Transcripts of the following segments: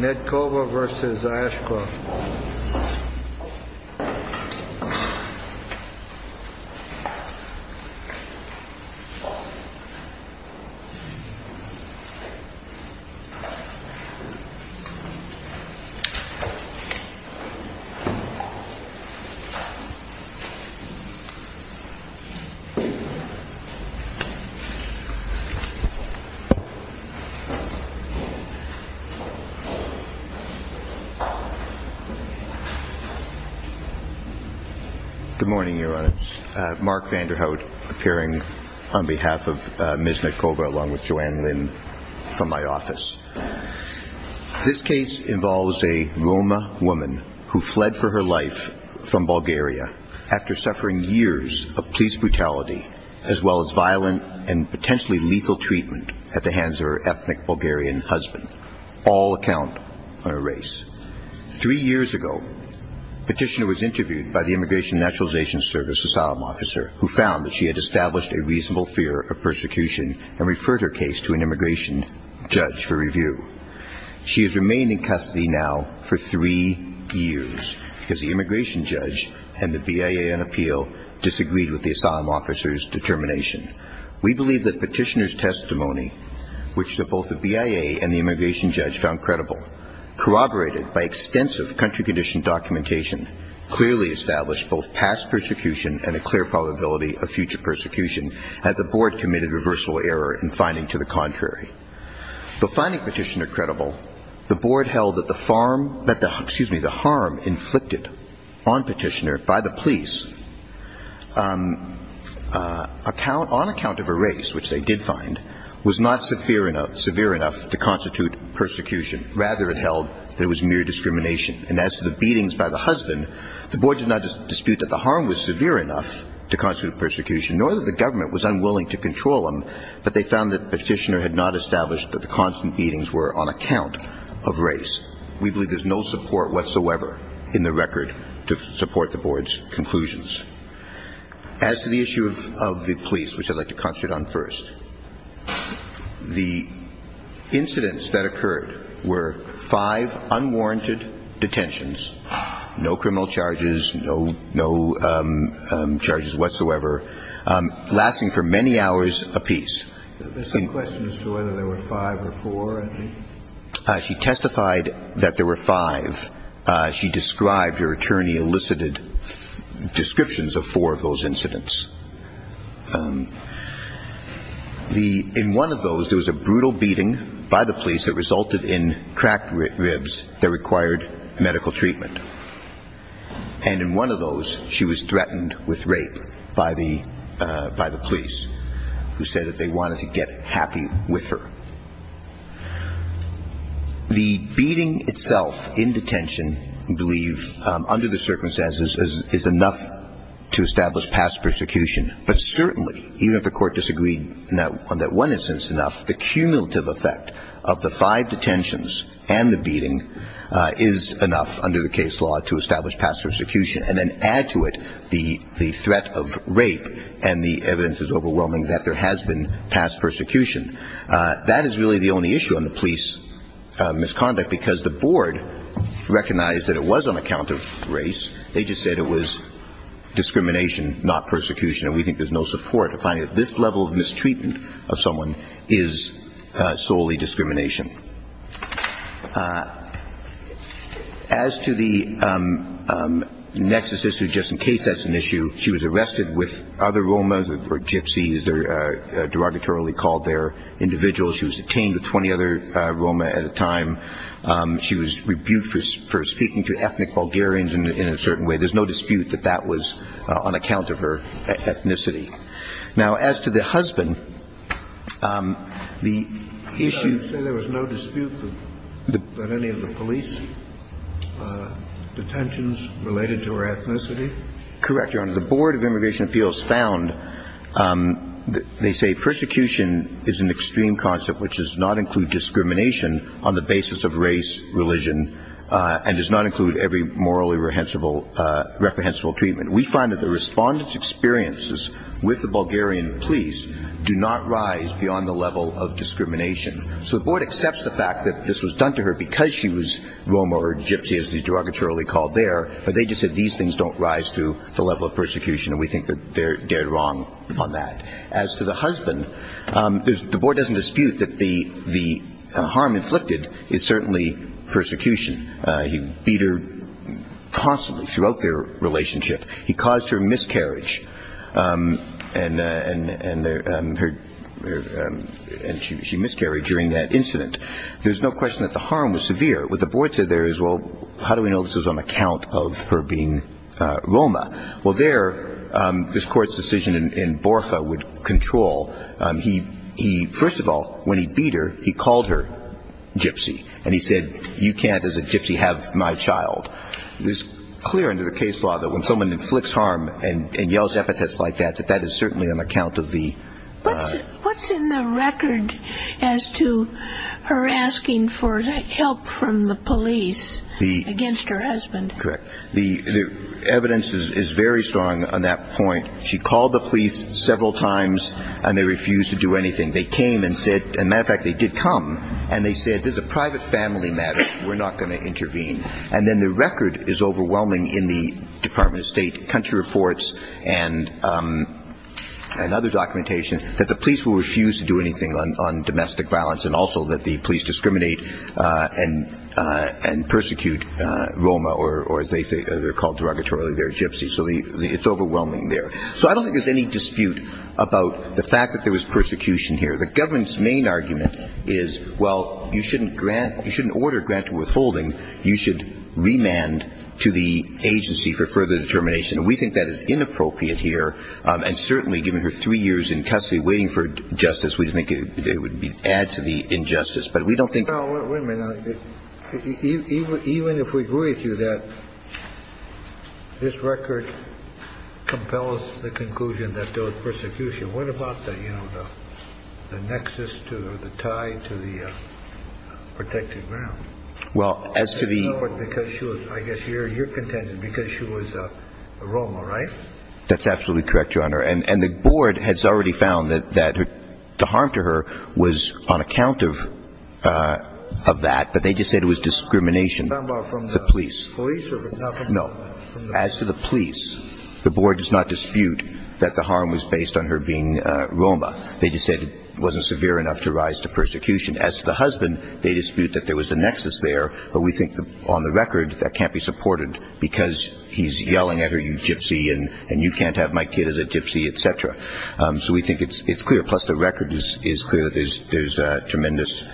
Nedkova v. Ashcroft Good morning, Your Honour. Mark Vanderhout, appearing on behalf of Ms. Nedkova along with Joanne Lynn from my office. This case involves a Roma woman who fled for her life from Bulgaria after suffering years of police brutality as well as violent and potentially lethal treatment at the hands of her ethnic Bulgarian husband. All account on a race. Three years ago, Petitioner was interviewed by the Immigration and Naturalization Service asylum officer who found that she had established a reasonable fear of persecution and referred her case to an immigration judge for review. She has remained in custody now for three years because the immigration judge and the BIA in appeal disagreed with the asylum officer's determination. We believe that Petitioner's testimony, which both the BIA and the immigration judge found credible, corroborated by extensive country condition documentation, clearly established both past persecution and a clear probability of future persecution, and the Board committed reversible error in finding to the contrary. Though finding Petitioner credible, the Board held that the harm inflicted on Petitioner by the police on account of a race, which they did find, was not severe enough to constitute persecution. Rather, it held that it was mere discrimination. And as to the beatings by the husband, the Board did not dispute that the harm was severe enough to constitute persecution, nor that the government was unwilling to control him, but they found that Petitioner had not established that the constant beatings were on account of race. We believe there's no support whatsoever in the record to support the Board's conclusions. As to the issue of the police, which I'd like to concentrate on first, the incidents that occurred were five unwarranted detentions, no criminal charges, no charges whatsoever, lasting for many hours apiece. There's some questions as to whether there were five or four. She testified that there were five. She described, her attorney elicited descriptions of four of those incidents. In one of those, there was a brutal beating by the police that resulted in cracked ribs that required medical treatment. And in one of those, she was threatened with wanted to get happy with her. The beating itself in detention, we believe, under the circumstances is enough to establish past persecution. But certainly, even if the Court disagreed on that one instance enough, the cumulative effect of the five detentions and the beating is enough under the case law to establish past persecution, and then add to it the threat of rape, and the evidence is overwhelming that there has been past persecution. That is really the only issue on the police misconduct, because the Board recognized that it was on account of race. They just said it was discrimination, not persecution. And we think there's no support to finding that this level of mistreatment of someone is solely discrimination. As to the next issue, just in case that's an issue, she was arrested with other role models. They were gypsies. They were derogatorily called their individuals. She was detained with 20 other Roma at a time. She was rebuked for speaking to ethnic Bulgarians in a certain way. There's no dispute that that was on account of her ethnicity. Now, as to the husband, the issue – So you say there was no dispute about any of the police detentions related to her ethnicity? Correct, Your Honor. The Board of Immigration Appeals found – they say persecution is an extreme concept which does not include discrimination on the basis of race, religion, and does not include every morally reprehensible treatment. We find that the respondents' experiences with the Bulgarian police do not rise beyond the level of discrimination. So the Board accepts the fact that this was done to her because she was Roma or gypsy, as they derogatorily called their – but they just said these things don't rise to the level of persecution, and we think that they're wrong on that. As to the husband, the Board doesn't dispute that the harm inflicted is certainly persecution. He beat her constantly throughout their relationship. He caused her miscarriage, and she miscarried during that incident. There's no question that the harm was severe. What the Board said there is, well, how do we know this is on account of her being Roma? Well, there, this Court's decision in Borfa would control – he – first of all, when he beat her, he called her gypsy, and he said, you can't, as a gypsy, have my child. It is clear under the case law that when someone inflicts harm and yells epithets like that, that that is certainly on account of the – What's in the record as to her asking for help from the police against her husband? Correct. The evidence is very strong on that point. She called the police several times, and they refused to do anything. They came and said – and, matter of fact, they did come – and they said, this is a private family matter. We're not going to intervene. And then the record is overwhelming in the Department of State country reports and other documentation that the police will refuse to do anything on domestic violence, and also that the police discriminate and persecute Roma, or as they say, they're called derogatorily there, gypsies. So it's overwhelming there. So I don't think there's any dispute about the fact that there was persecution here. The government's main argument is, well, you shouldn't grant – you shouldn't order grant to withholding. You should remand to the agency for further determination. And we think that is inappropriate here, and certainly given her three years in custody waiting for justice, we think it would be – add to the injustice. But we don't think – Well, wait a minute. Even if we agree with you that this record compels the conclusion that there was persecution, what about the nexus to – or the tie to the protected ground? Well, as to the – Because she was – I guess you're contending because she was a Roma, right? That's absolutely correct, Your Honor. And the board has already found that the harm to her was on account of that, but they just said it was discrimination. What about from the police or from government? No. As to the police, the board does not dispute that the harm was based on her being Roma. They just said it wasn't severe enough to rise to persecution. As to the husband, they dispute that there was a nexus there, but we think on the record that can't be supported because he's yelling at her, you gypsy, and you can't have my kid as a gypsy, et cetera. So we think it's clear. Plus, the record is clear that there's tremendous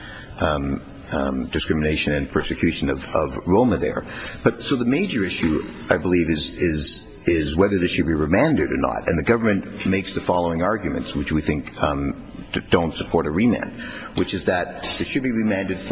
discrimination and persecution of Roma there. But so the major issue, I believe, is whether this should be remanded or not. And the government makes the following arguments, which we think don't support a remand, which is that it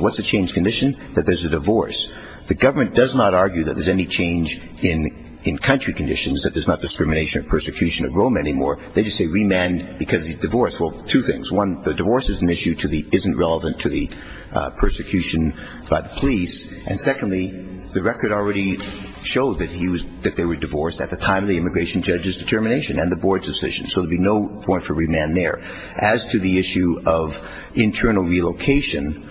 What's a changed condition? That there's a divorce. The government does not argue that there's any change in country conditions, that there's not discrimination or persecution of Roma anymore. They just say remand because of the divorce. Well, two things. One, the divorce is an issue that isn't relevant to the persecution by the police. And secondly, the record already showed that they were divorced at the time of the immigration judge's determination and the board's decision. So there would be no point for remand there. As to the issue of internal relocation,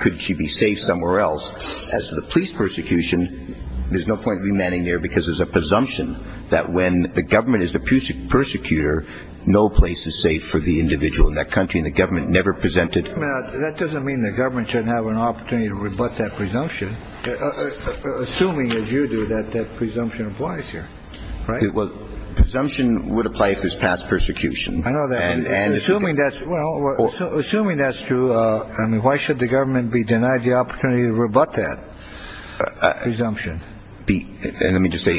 could she be safe somewhere else? As to the police persecution, there's no point in remanding there because there's a presumption that when the government is the persecutor, no place is safe for the individual in that country. And the government never presented. I mean, that doesn't mean the government shouldn't have an opportunity to rebut that presumption. Assuming, as you do, that that presumption applies here, right? Well, presumption would apply if there's past persecution. I know that. Assuming that's true, why should the government be denied the opportunity to rebut that presumption?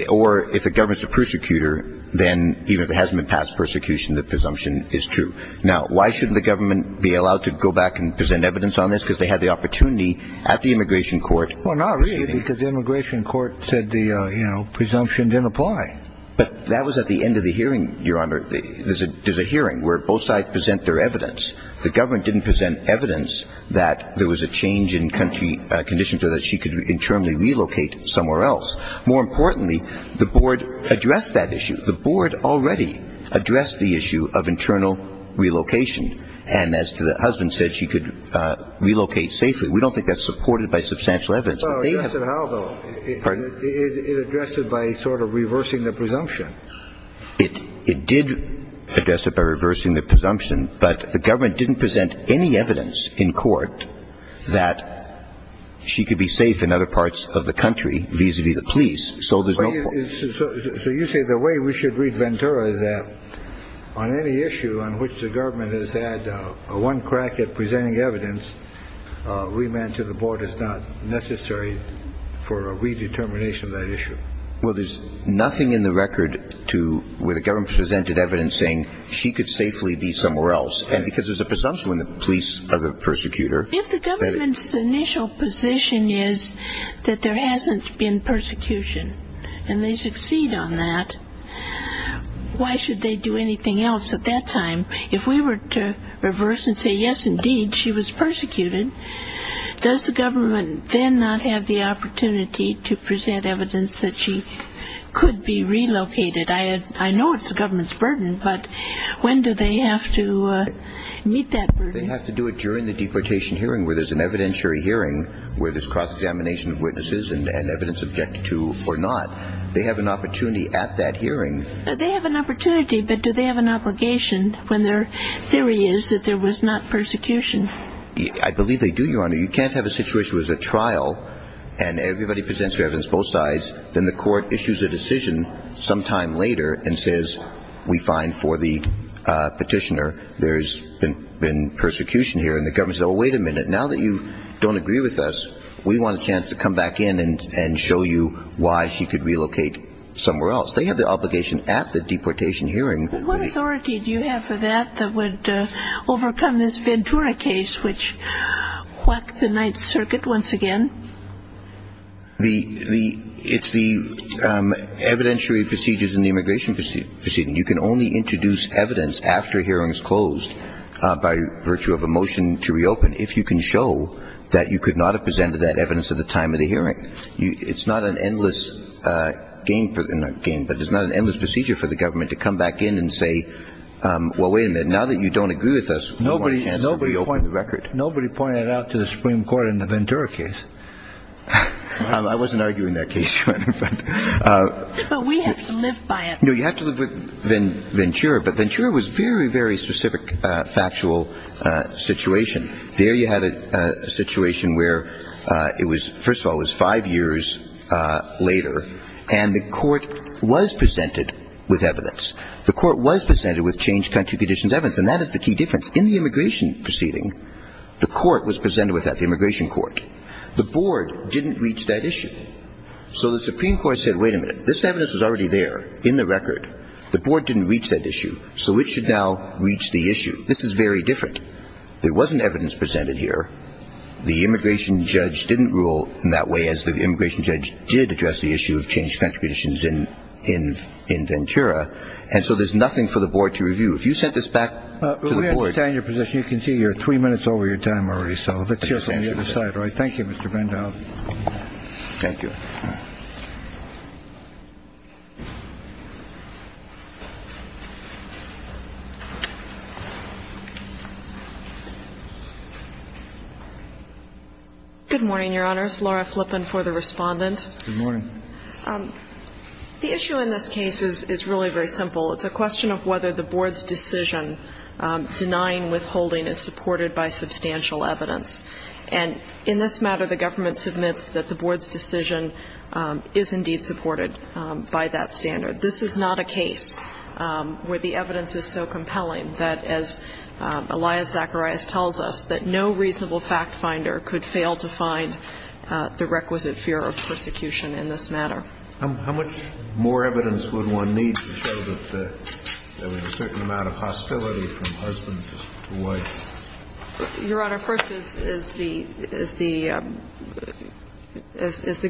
Or if the government's a persecutor, then even if there hasn't been past persecution, the presumption is true. Now, why shouldn't the government be allowed to go back and present evidence on this? Because they had the opportunity at the immigration court. Well, not really, because the immigration court said the presumption didn't apply. But that was at the end of the hearing, Your Honor. There's a hearing where both sides present their evidence. The government didn't present evidence that there was a change in country conditions or that she could internally relocate somewhere else. More importantly, the board addressed that issue. The board already addressed the issue of internal relocation. And as the husband said, she could relocate safely. We don't think that's supported by substantial evidence. It addressed it by sort of reversing the presumption. It did address it by reversing the presumption. But the government didn't present any evidence in court that she could be safe in other parts of the country vis-a-vis the police. So you say the way we should read Ventura is that on any issue on which the government has had one crack at presenting evidence, remand to the board is not necessary for a redetermination of that issue. Well, there's nothing in the record to where the government presented evidence saying she could safely be somewhere else. And because there's a presumption when the police are the persecutor. If the government's initial position is that there hasn't been persecution and they succeed on that, why should they do anything else at that time? If we were to reverse and say yes, indeed, she was persecuted, does the government then not have the opportunity to present evidence that she could be relocated? I know it's the government's burden, but when do they have to meet that burden? They have to do it during the deportation hearing where there's an evidentiary hearing where there's cross-examination of witnesses and evidence objected to or not. They have an opportunity at that hearing. They have an opportunity, but do they have an obligation when their theory is that there was not persecution? I believe they do, Your Honor. You can't have a situation where there's a trial and everybody presents their evidence, both sides, then the court issues a decision sometime later and says we find for the petitioner there's been persecution here. And the government says, well, wait a minute, now that you don't agree with us, we want a chance to come back in and show you why she could relocate somewhere else. They have the obligation at the deportation hearing. What authority do you have for that that would overcome this Ventura case which whacked the Ninth Circuit once again? It's the evidentiary procedures in the immigration proceeding. You can only introduce evidence after a hearing is closed by virtue of a motion to reopen if you can show that you could not have presented that evidence at the time of the hearing. It's not an endless procedure for the government to come back in and say, well, wait a minute, now that you don't agree with us, we want a chance to reopen the record. Nobody pointed it out to the Supreme Court in the Ventura case. I wasn't arguing that case, Your Honor. We have to live by it. No, you have to live with Ventura, but Ventura was a very, very specific factual situation. There you had a situation where it was, first of all, it was five years later, and the court was presented with evidence. The court was presented with changed country conditions evidence, and that is the key difference. In the immigration proceeding, the court was presented with that, the immigration court. The board didn't reach that issue. So the board didn't reach that issue. So it should now reach the issue. This is very different. There wasn't evidence presented here. The immigration judge didn't rule in that way as the immigration judge did address the issue of changed country conditions in Ventura, and so there's nothing for the board to review. If you sent this back to the board. We understand your position. You can see you're three minutes over your time already, so let's hear from the other side. Thank you, Mr. Van Dahl. Good morning, Your Honors. Laura Flippen for the Respondent. Good morning. The issue in this case is really very simple. It's a question of whether the board's decision denying withholding is supported by substantial evidence. And in this matter, the government submits that the board's decision is indeed supported by that standard. This is not a case where the evidence is so compelling that, as Elias Zacharias tells us, that no reasonable fact finder could fail to find the requisite fear of persecution in this matter. How much more evidence would one need to show that there was a certain amount of hostility from husband to wife? Your Honor, first is the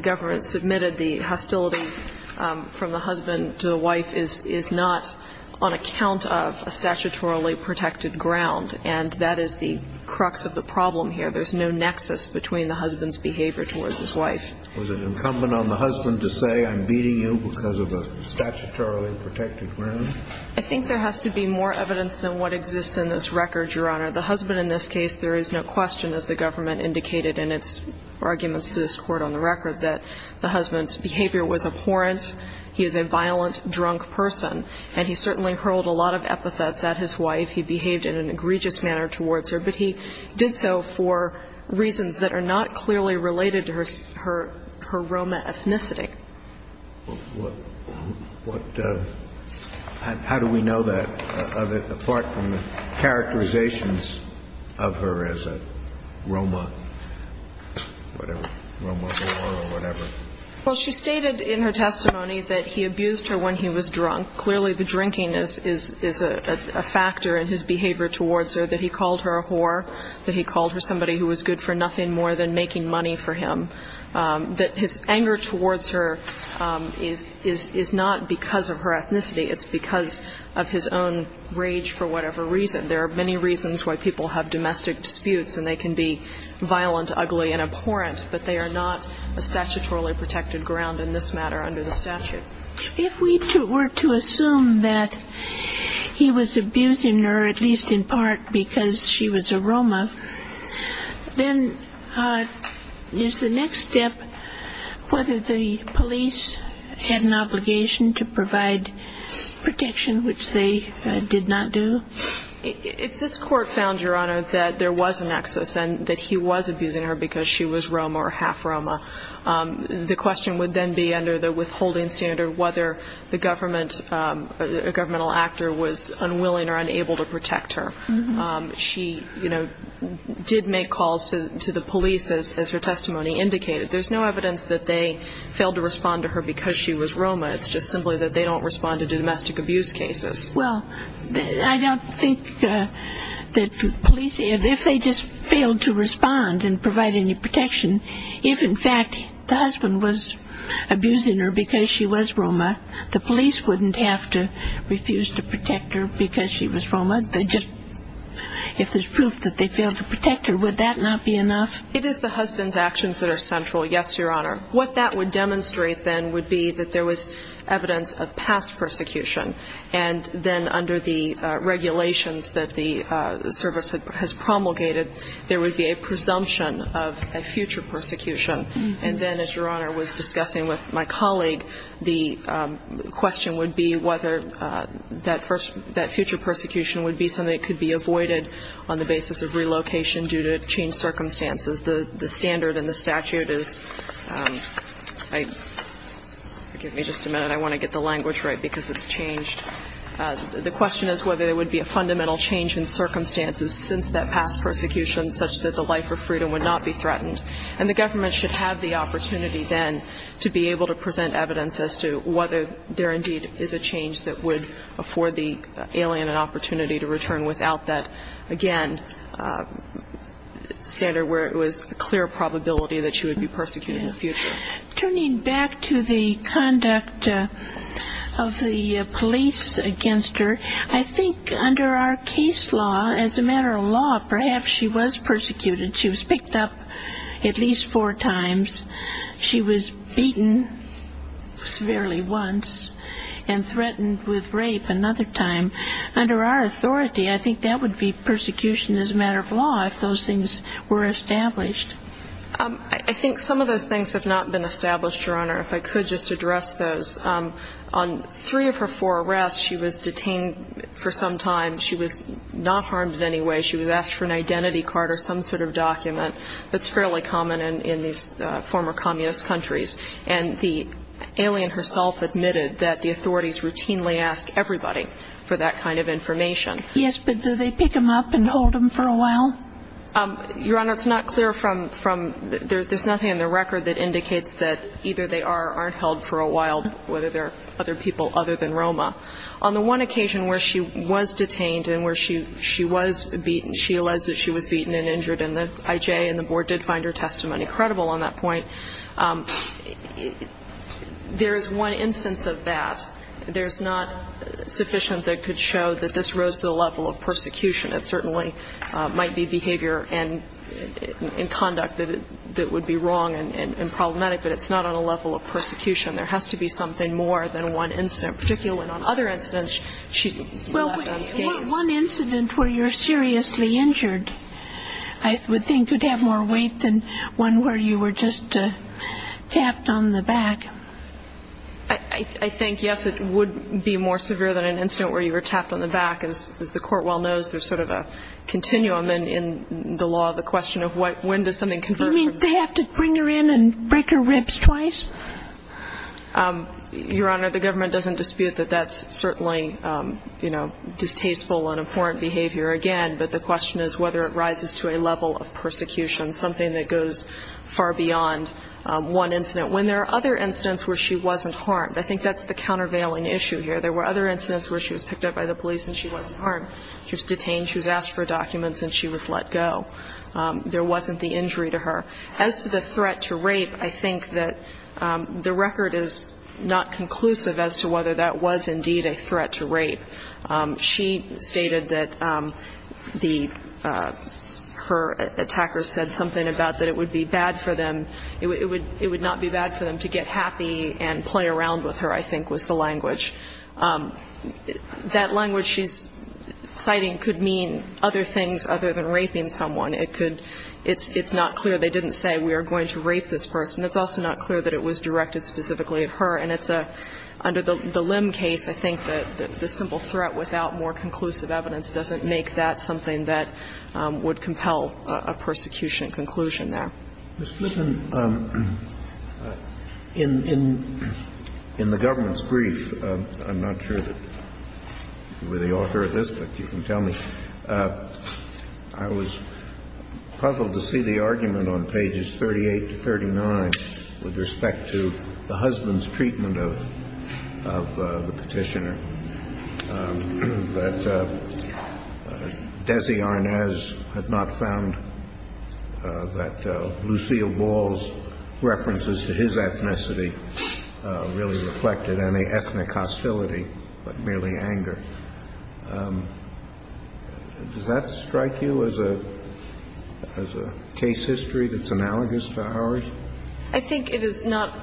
government submitted the hostility from the husband to the wife is not on account of a statutorily protected ground. And that is the crux of the problem here. There's no nexus between the husband's behavior towards his wife. Was it incumbent on the husband to say, I'm beating you because of a statutorily protected ground? I think there has to be more evidence than what exists in this record, Your Honor. The husband in this case, there is no question, as the government indicated in its arguments to this Court on the record, that the husband's behavior was abhorrent. He is a violent, drunk person. And he certainly hurled a lot of epithets at his wife. He behaved in an egregious manner towards her. But he did so for reasons that are not clearly related to her Roma ethnicity. Well, how do we know that, apart from the characterizations of her as a Roma whatever? Well, she stated in her testimony that he abused her when he was drunk. Clearly, the drinking is a factor in his behavior towards her, that he called her a whore, that he called her somebody who was good for nothing more than making money for him, that his anger towards her is not because of her ethnicity. It's because of his own rage for whatever reason. There are many reasons why people have domestic disputes, and they can be violent, ugly, and abhorrent, but they are not a statutorily protected ground in this matter under the statute. If we were to assume that he was abusing her, at least in part because she was a Roma, then is the next step whether the police had an obligation to provide protection, which they did not do? If this Court found, Your Honor, that there was a nexus and that he was abusing her because she was Roma or half-Roma, the question would then be under the withholding standard whether the government, a governmental actor was unwilling or unable to protect her. She, you know, did make calls to the police, as her testimony indicated. There's no evidence that they failed to respond to her because she was Roma. It's just simply that they don't respond to domestic abuse cases. Well, I don't think that the police, if they just failed to respond and provide any protection, if, in fact, the husband was abusing her because she was Roma, the police wouldn't have to refuse to protect her because she was Roma. They just, if there's proof that they failed to protect her, would that not be enough? It is the husband's actions that are central, yes, Your Honor. What that would demonstrate then would be that there was evidence of past persecution. And then under the regulations that the service has promulgated, there would be a presumption of a future persecution. And then, as Your Honor was discussing with my colleague, the question would be whether that future persecution would be something that could be avoided on the basis of relocation due to changed circumstances. The standard in the statute is, give me just a minute, I want to get the language right because it's changed. The question is whether there would be a fundamental change in circumstances since that past persecution, such that the life of freedom would not be threatened. And the government should have the opportunity then to be able to present evidence as to whether there indeed is a change that would afford the alien an opportunity to return without that, again, standard where it was a clear probability that she would be persecuted in the future. Turning back to the conduct of the police against her, I think under our case law, as a matter of law, perhaps she was persecuted. She was picked up at least four times. She was beaten severely once and threatened with rape another time. Under our authority, I think that would be persecution as a matter of law if those things were established. I think some of those things have not been established, Your Honor, if I could just address those. On three of her four arrests, she was detained for some time. She was not harmed in any way. She was asked for an identity card or some sort of document. That's fairly common in these former communist countries. And the alien herself admitted that the authorities routinely ask everybody for that kind of information. Yes, but do they pick them up and hold them for a while? Your Honor, it's not clear from the ‑‑ there's nothing in the record that indicates that either they are or aren't held for a while, whether they're other people other than Roma. On the one occasion where she was detained and where she was beaten, she alleged that she was beaten and injured in the IJ, and the board did find her testimony credible on that point, there is one instance of that. There's not sufficient that could show that this rose to the level of persecution. It certainly might be behavior and conduct that would be wrong and problematic, but it's not on a level of persecution. There has to be something more than one incident, particularly on other incidents she's left unscathed. One incident where you're seriously injured, I would think, would have more weight than one where you were just tapped on the back. I think, yes, it would be more severe than an incident where you were tapped on the back. As the Court well knows, there's sort of a continuum in the law, the question of when does something convert from ‑‑ You mean they have to bring her in and break her ribs twice? Your Honor, the government doesn't dispute that that's certainly, you know, distasteful and abhorrent behavior, again, but the question is whether it rises to a level of persecution, something that goes far beyond one incident, when there are other incidents where she wasn't harmed. I think that's the countervailing issue here. There were other incidents where she was picked up by the police and she wasn't harmed. She was detained, she was asked for documents and she was let go. There wasn't the injury to her. As to the threat to rape, I think that the record is not conclusive as to whether that was indeed a threat to rape. She stated that the ‑‑ her attacker said something about that it would be bad for them, it would not be bad for them to get happy and play around with her, I think, was the language. That language she's citing could mean other things other than raping someone. It could ‑‑ it's not clear they didn't say we are going to rape this person. It's also not clear that it was directed specifically at her. And it's a ‑‑ under the Lim case, I think that the simple threat without more conclusive evidence doesn't make that something that would compel a persecution conclusion there. Mr. Blinken, in the government's brief, I'm not sure that you were the author of this, but you can tell me, I was puzzled to see the argument on pages 38 to 39 with respect to the husband's treatment of the petitioner, that Desi Arnaz had not found that Lucille Wall's references to his ethnicity really reflected any ethnic hostility, but merely anger. Does that strike you as a case history that's analogous to ours? I think it is not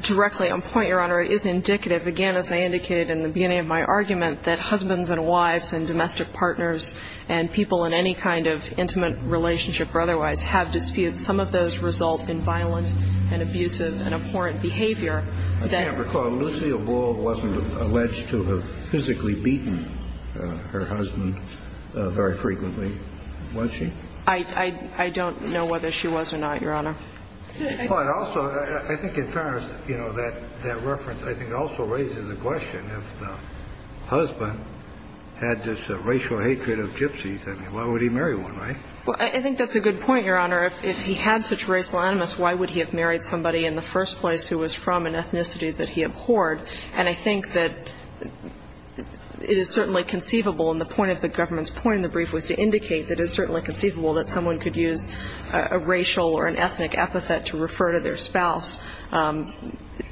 directly on point, Your Honor. It is indicative, again, as I indicated in the beginning of my argument, that husbands and wives and domestic partners and people in any kind of intimate relationship or otherwise have disputes. Some of those result in violent and abusive and abhorrent behavior that ‑‑ Alleged to have physically beaten her husband very frequently. Was she? I don't know whether she was or not, Your Honor. But also, I think in fairness, you know, that reference, I think, also raises the question if the husband had this racial hatred of gypsies, I mean, why would he marry one, right? Well, I think that's a good point, Your Honor. If he had such racial animus, why would he have married somebody in the first place who was from an ethnicity that he abhorred? And I think that it is certainly conceivable, and the point of the government's point in the brief was to indicate that it is certainly conceivable that someone could use a racial or an ethnic epithet to refer to their spouse,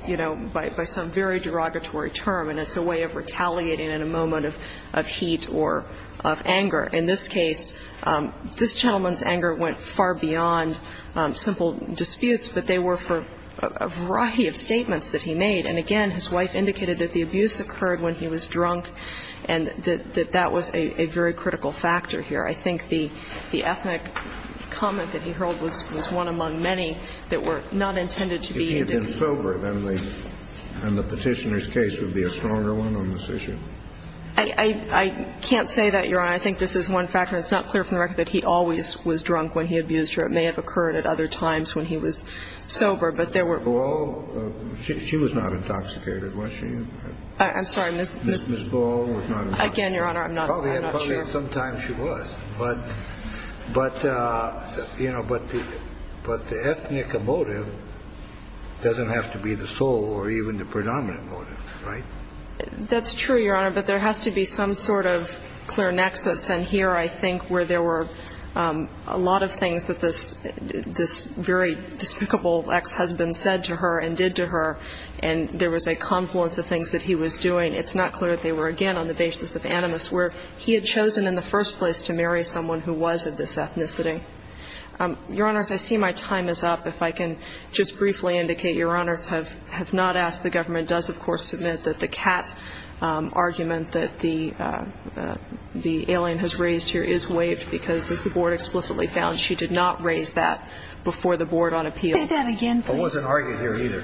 you know, by some very derogatory term, and it's a way of retaliating in a moment of heat or of anger. In this case, this gentleman's anger went far beyond simple disputes, but they were for a variety of statements that he made. And again, his wife indicated that the abuse occurred when he was drunk, and that that was a very critical factor here. I think the ethnic comment that he hurled was one among many that were not intended to be a debate. If he had been sober, then the Petitioner's case would be a stronger one on this issue. I can't say that, Your Honor. I think this is one factor. It's not clear from the record that he always was drunk when he abused her. It may have occurred at other times when he was sober, but there were – Ms. Ball, she was not intoxicated, was she? I'm sorry, Ms. – Ms. Ball was not intoxicated. Again, Your Honor, I'm not – I'm not sure. Probably at some time she was. But, you know, but the ethnic motive doesn't have to be the sole or even the predominant motive, right? That's true, Your Honor, but there has to be some sort of clear nexus. And here I think where there were a lot of things that this very despicable ex-husband said to her and did to her, and there was a confluence of things that he was doing, it's not clear that they were, again, on the basis of animus, where he had chosen in the first place to marry someone who was of this ethnicity. Your Honors, I see my time is up. If I can just briefly indicate, Your Honors have not asked. The government does, of course, submit that the cat argument that the alien has raised here is waived because, as the board explicitly found, she did not raise that before the board on appeal. Say that again, please. I wasn't arguing here either.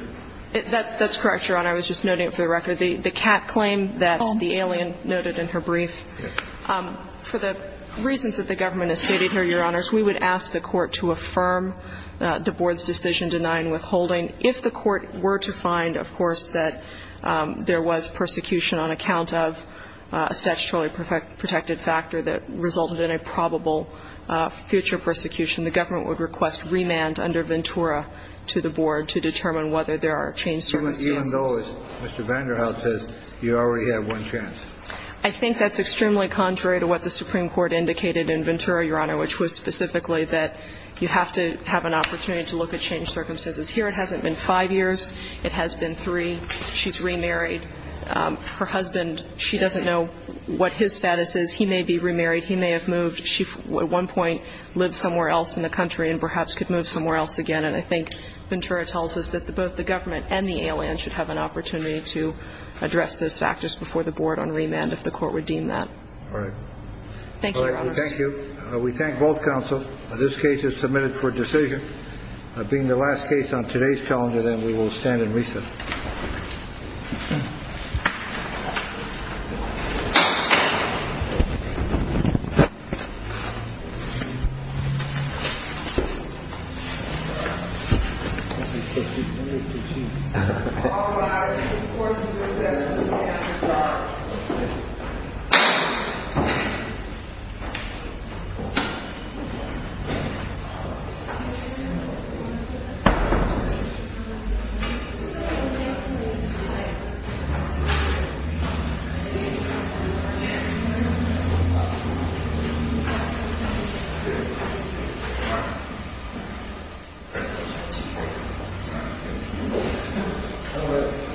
That's correct, Your Honor. I was just noting it for the record. The cat claim that the alien noted in her brief. For the reasons that the government has stated here, Your Honors, we would ask the court to affirm the board's decision denying withholding. If the court were to find, of course, that there was persecution on account of a statutorily protected factor that resulted in a probable future persecution, the government would request remand under Ventura to the board to determine whether there are change circumstances. Even though, as Mr. Vanderhout says, you already have one chance. I think that's extremely contrary to what the Supreme Court indicated in Ventura, Your Honor, which was specifically that you have to have an opportunity to look at change circumstances. Here it hasn't been five years. It has been three. She's remarried. Her husband, she doesn't know what his status is. He may be remarried. He may have moved. She at one point lived somewhere else in the country and perhaps could move somewhere else again. And I think Ventura tells us that both the government and the alien should have an opportunity to address those factors before the board on remand if the court would deem that. All right. Thank you, Your Honors. Thank you. We thank both counsel. This case is submitted for decision. Being the last case on today's calendar, then we will stand in recess. All rise. This court is in recess. This court is in recess. This court is in recess. This court is in recess.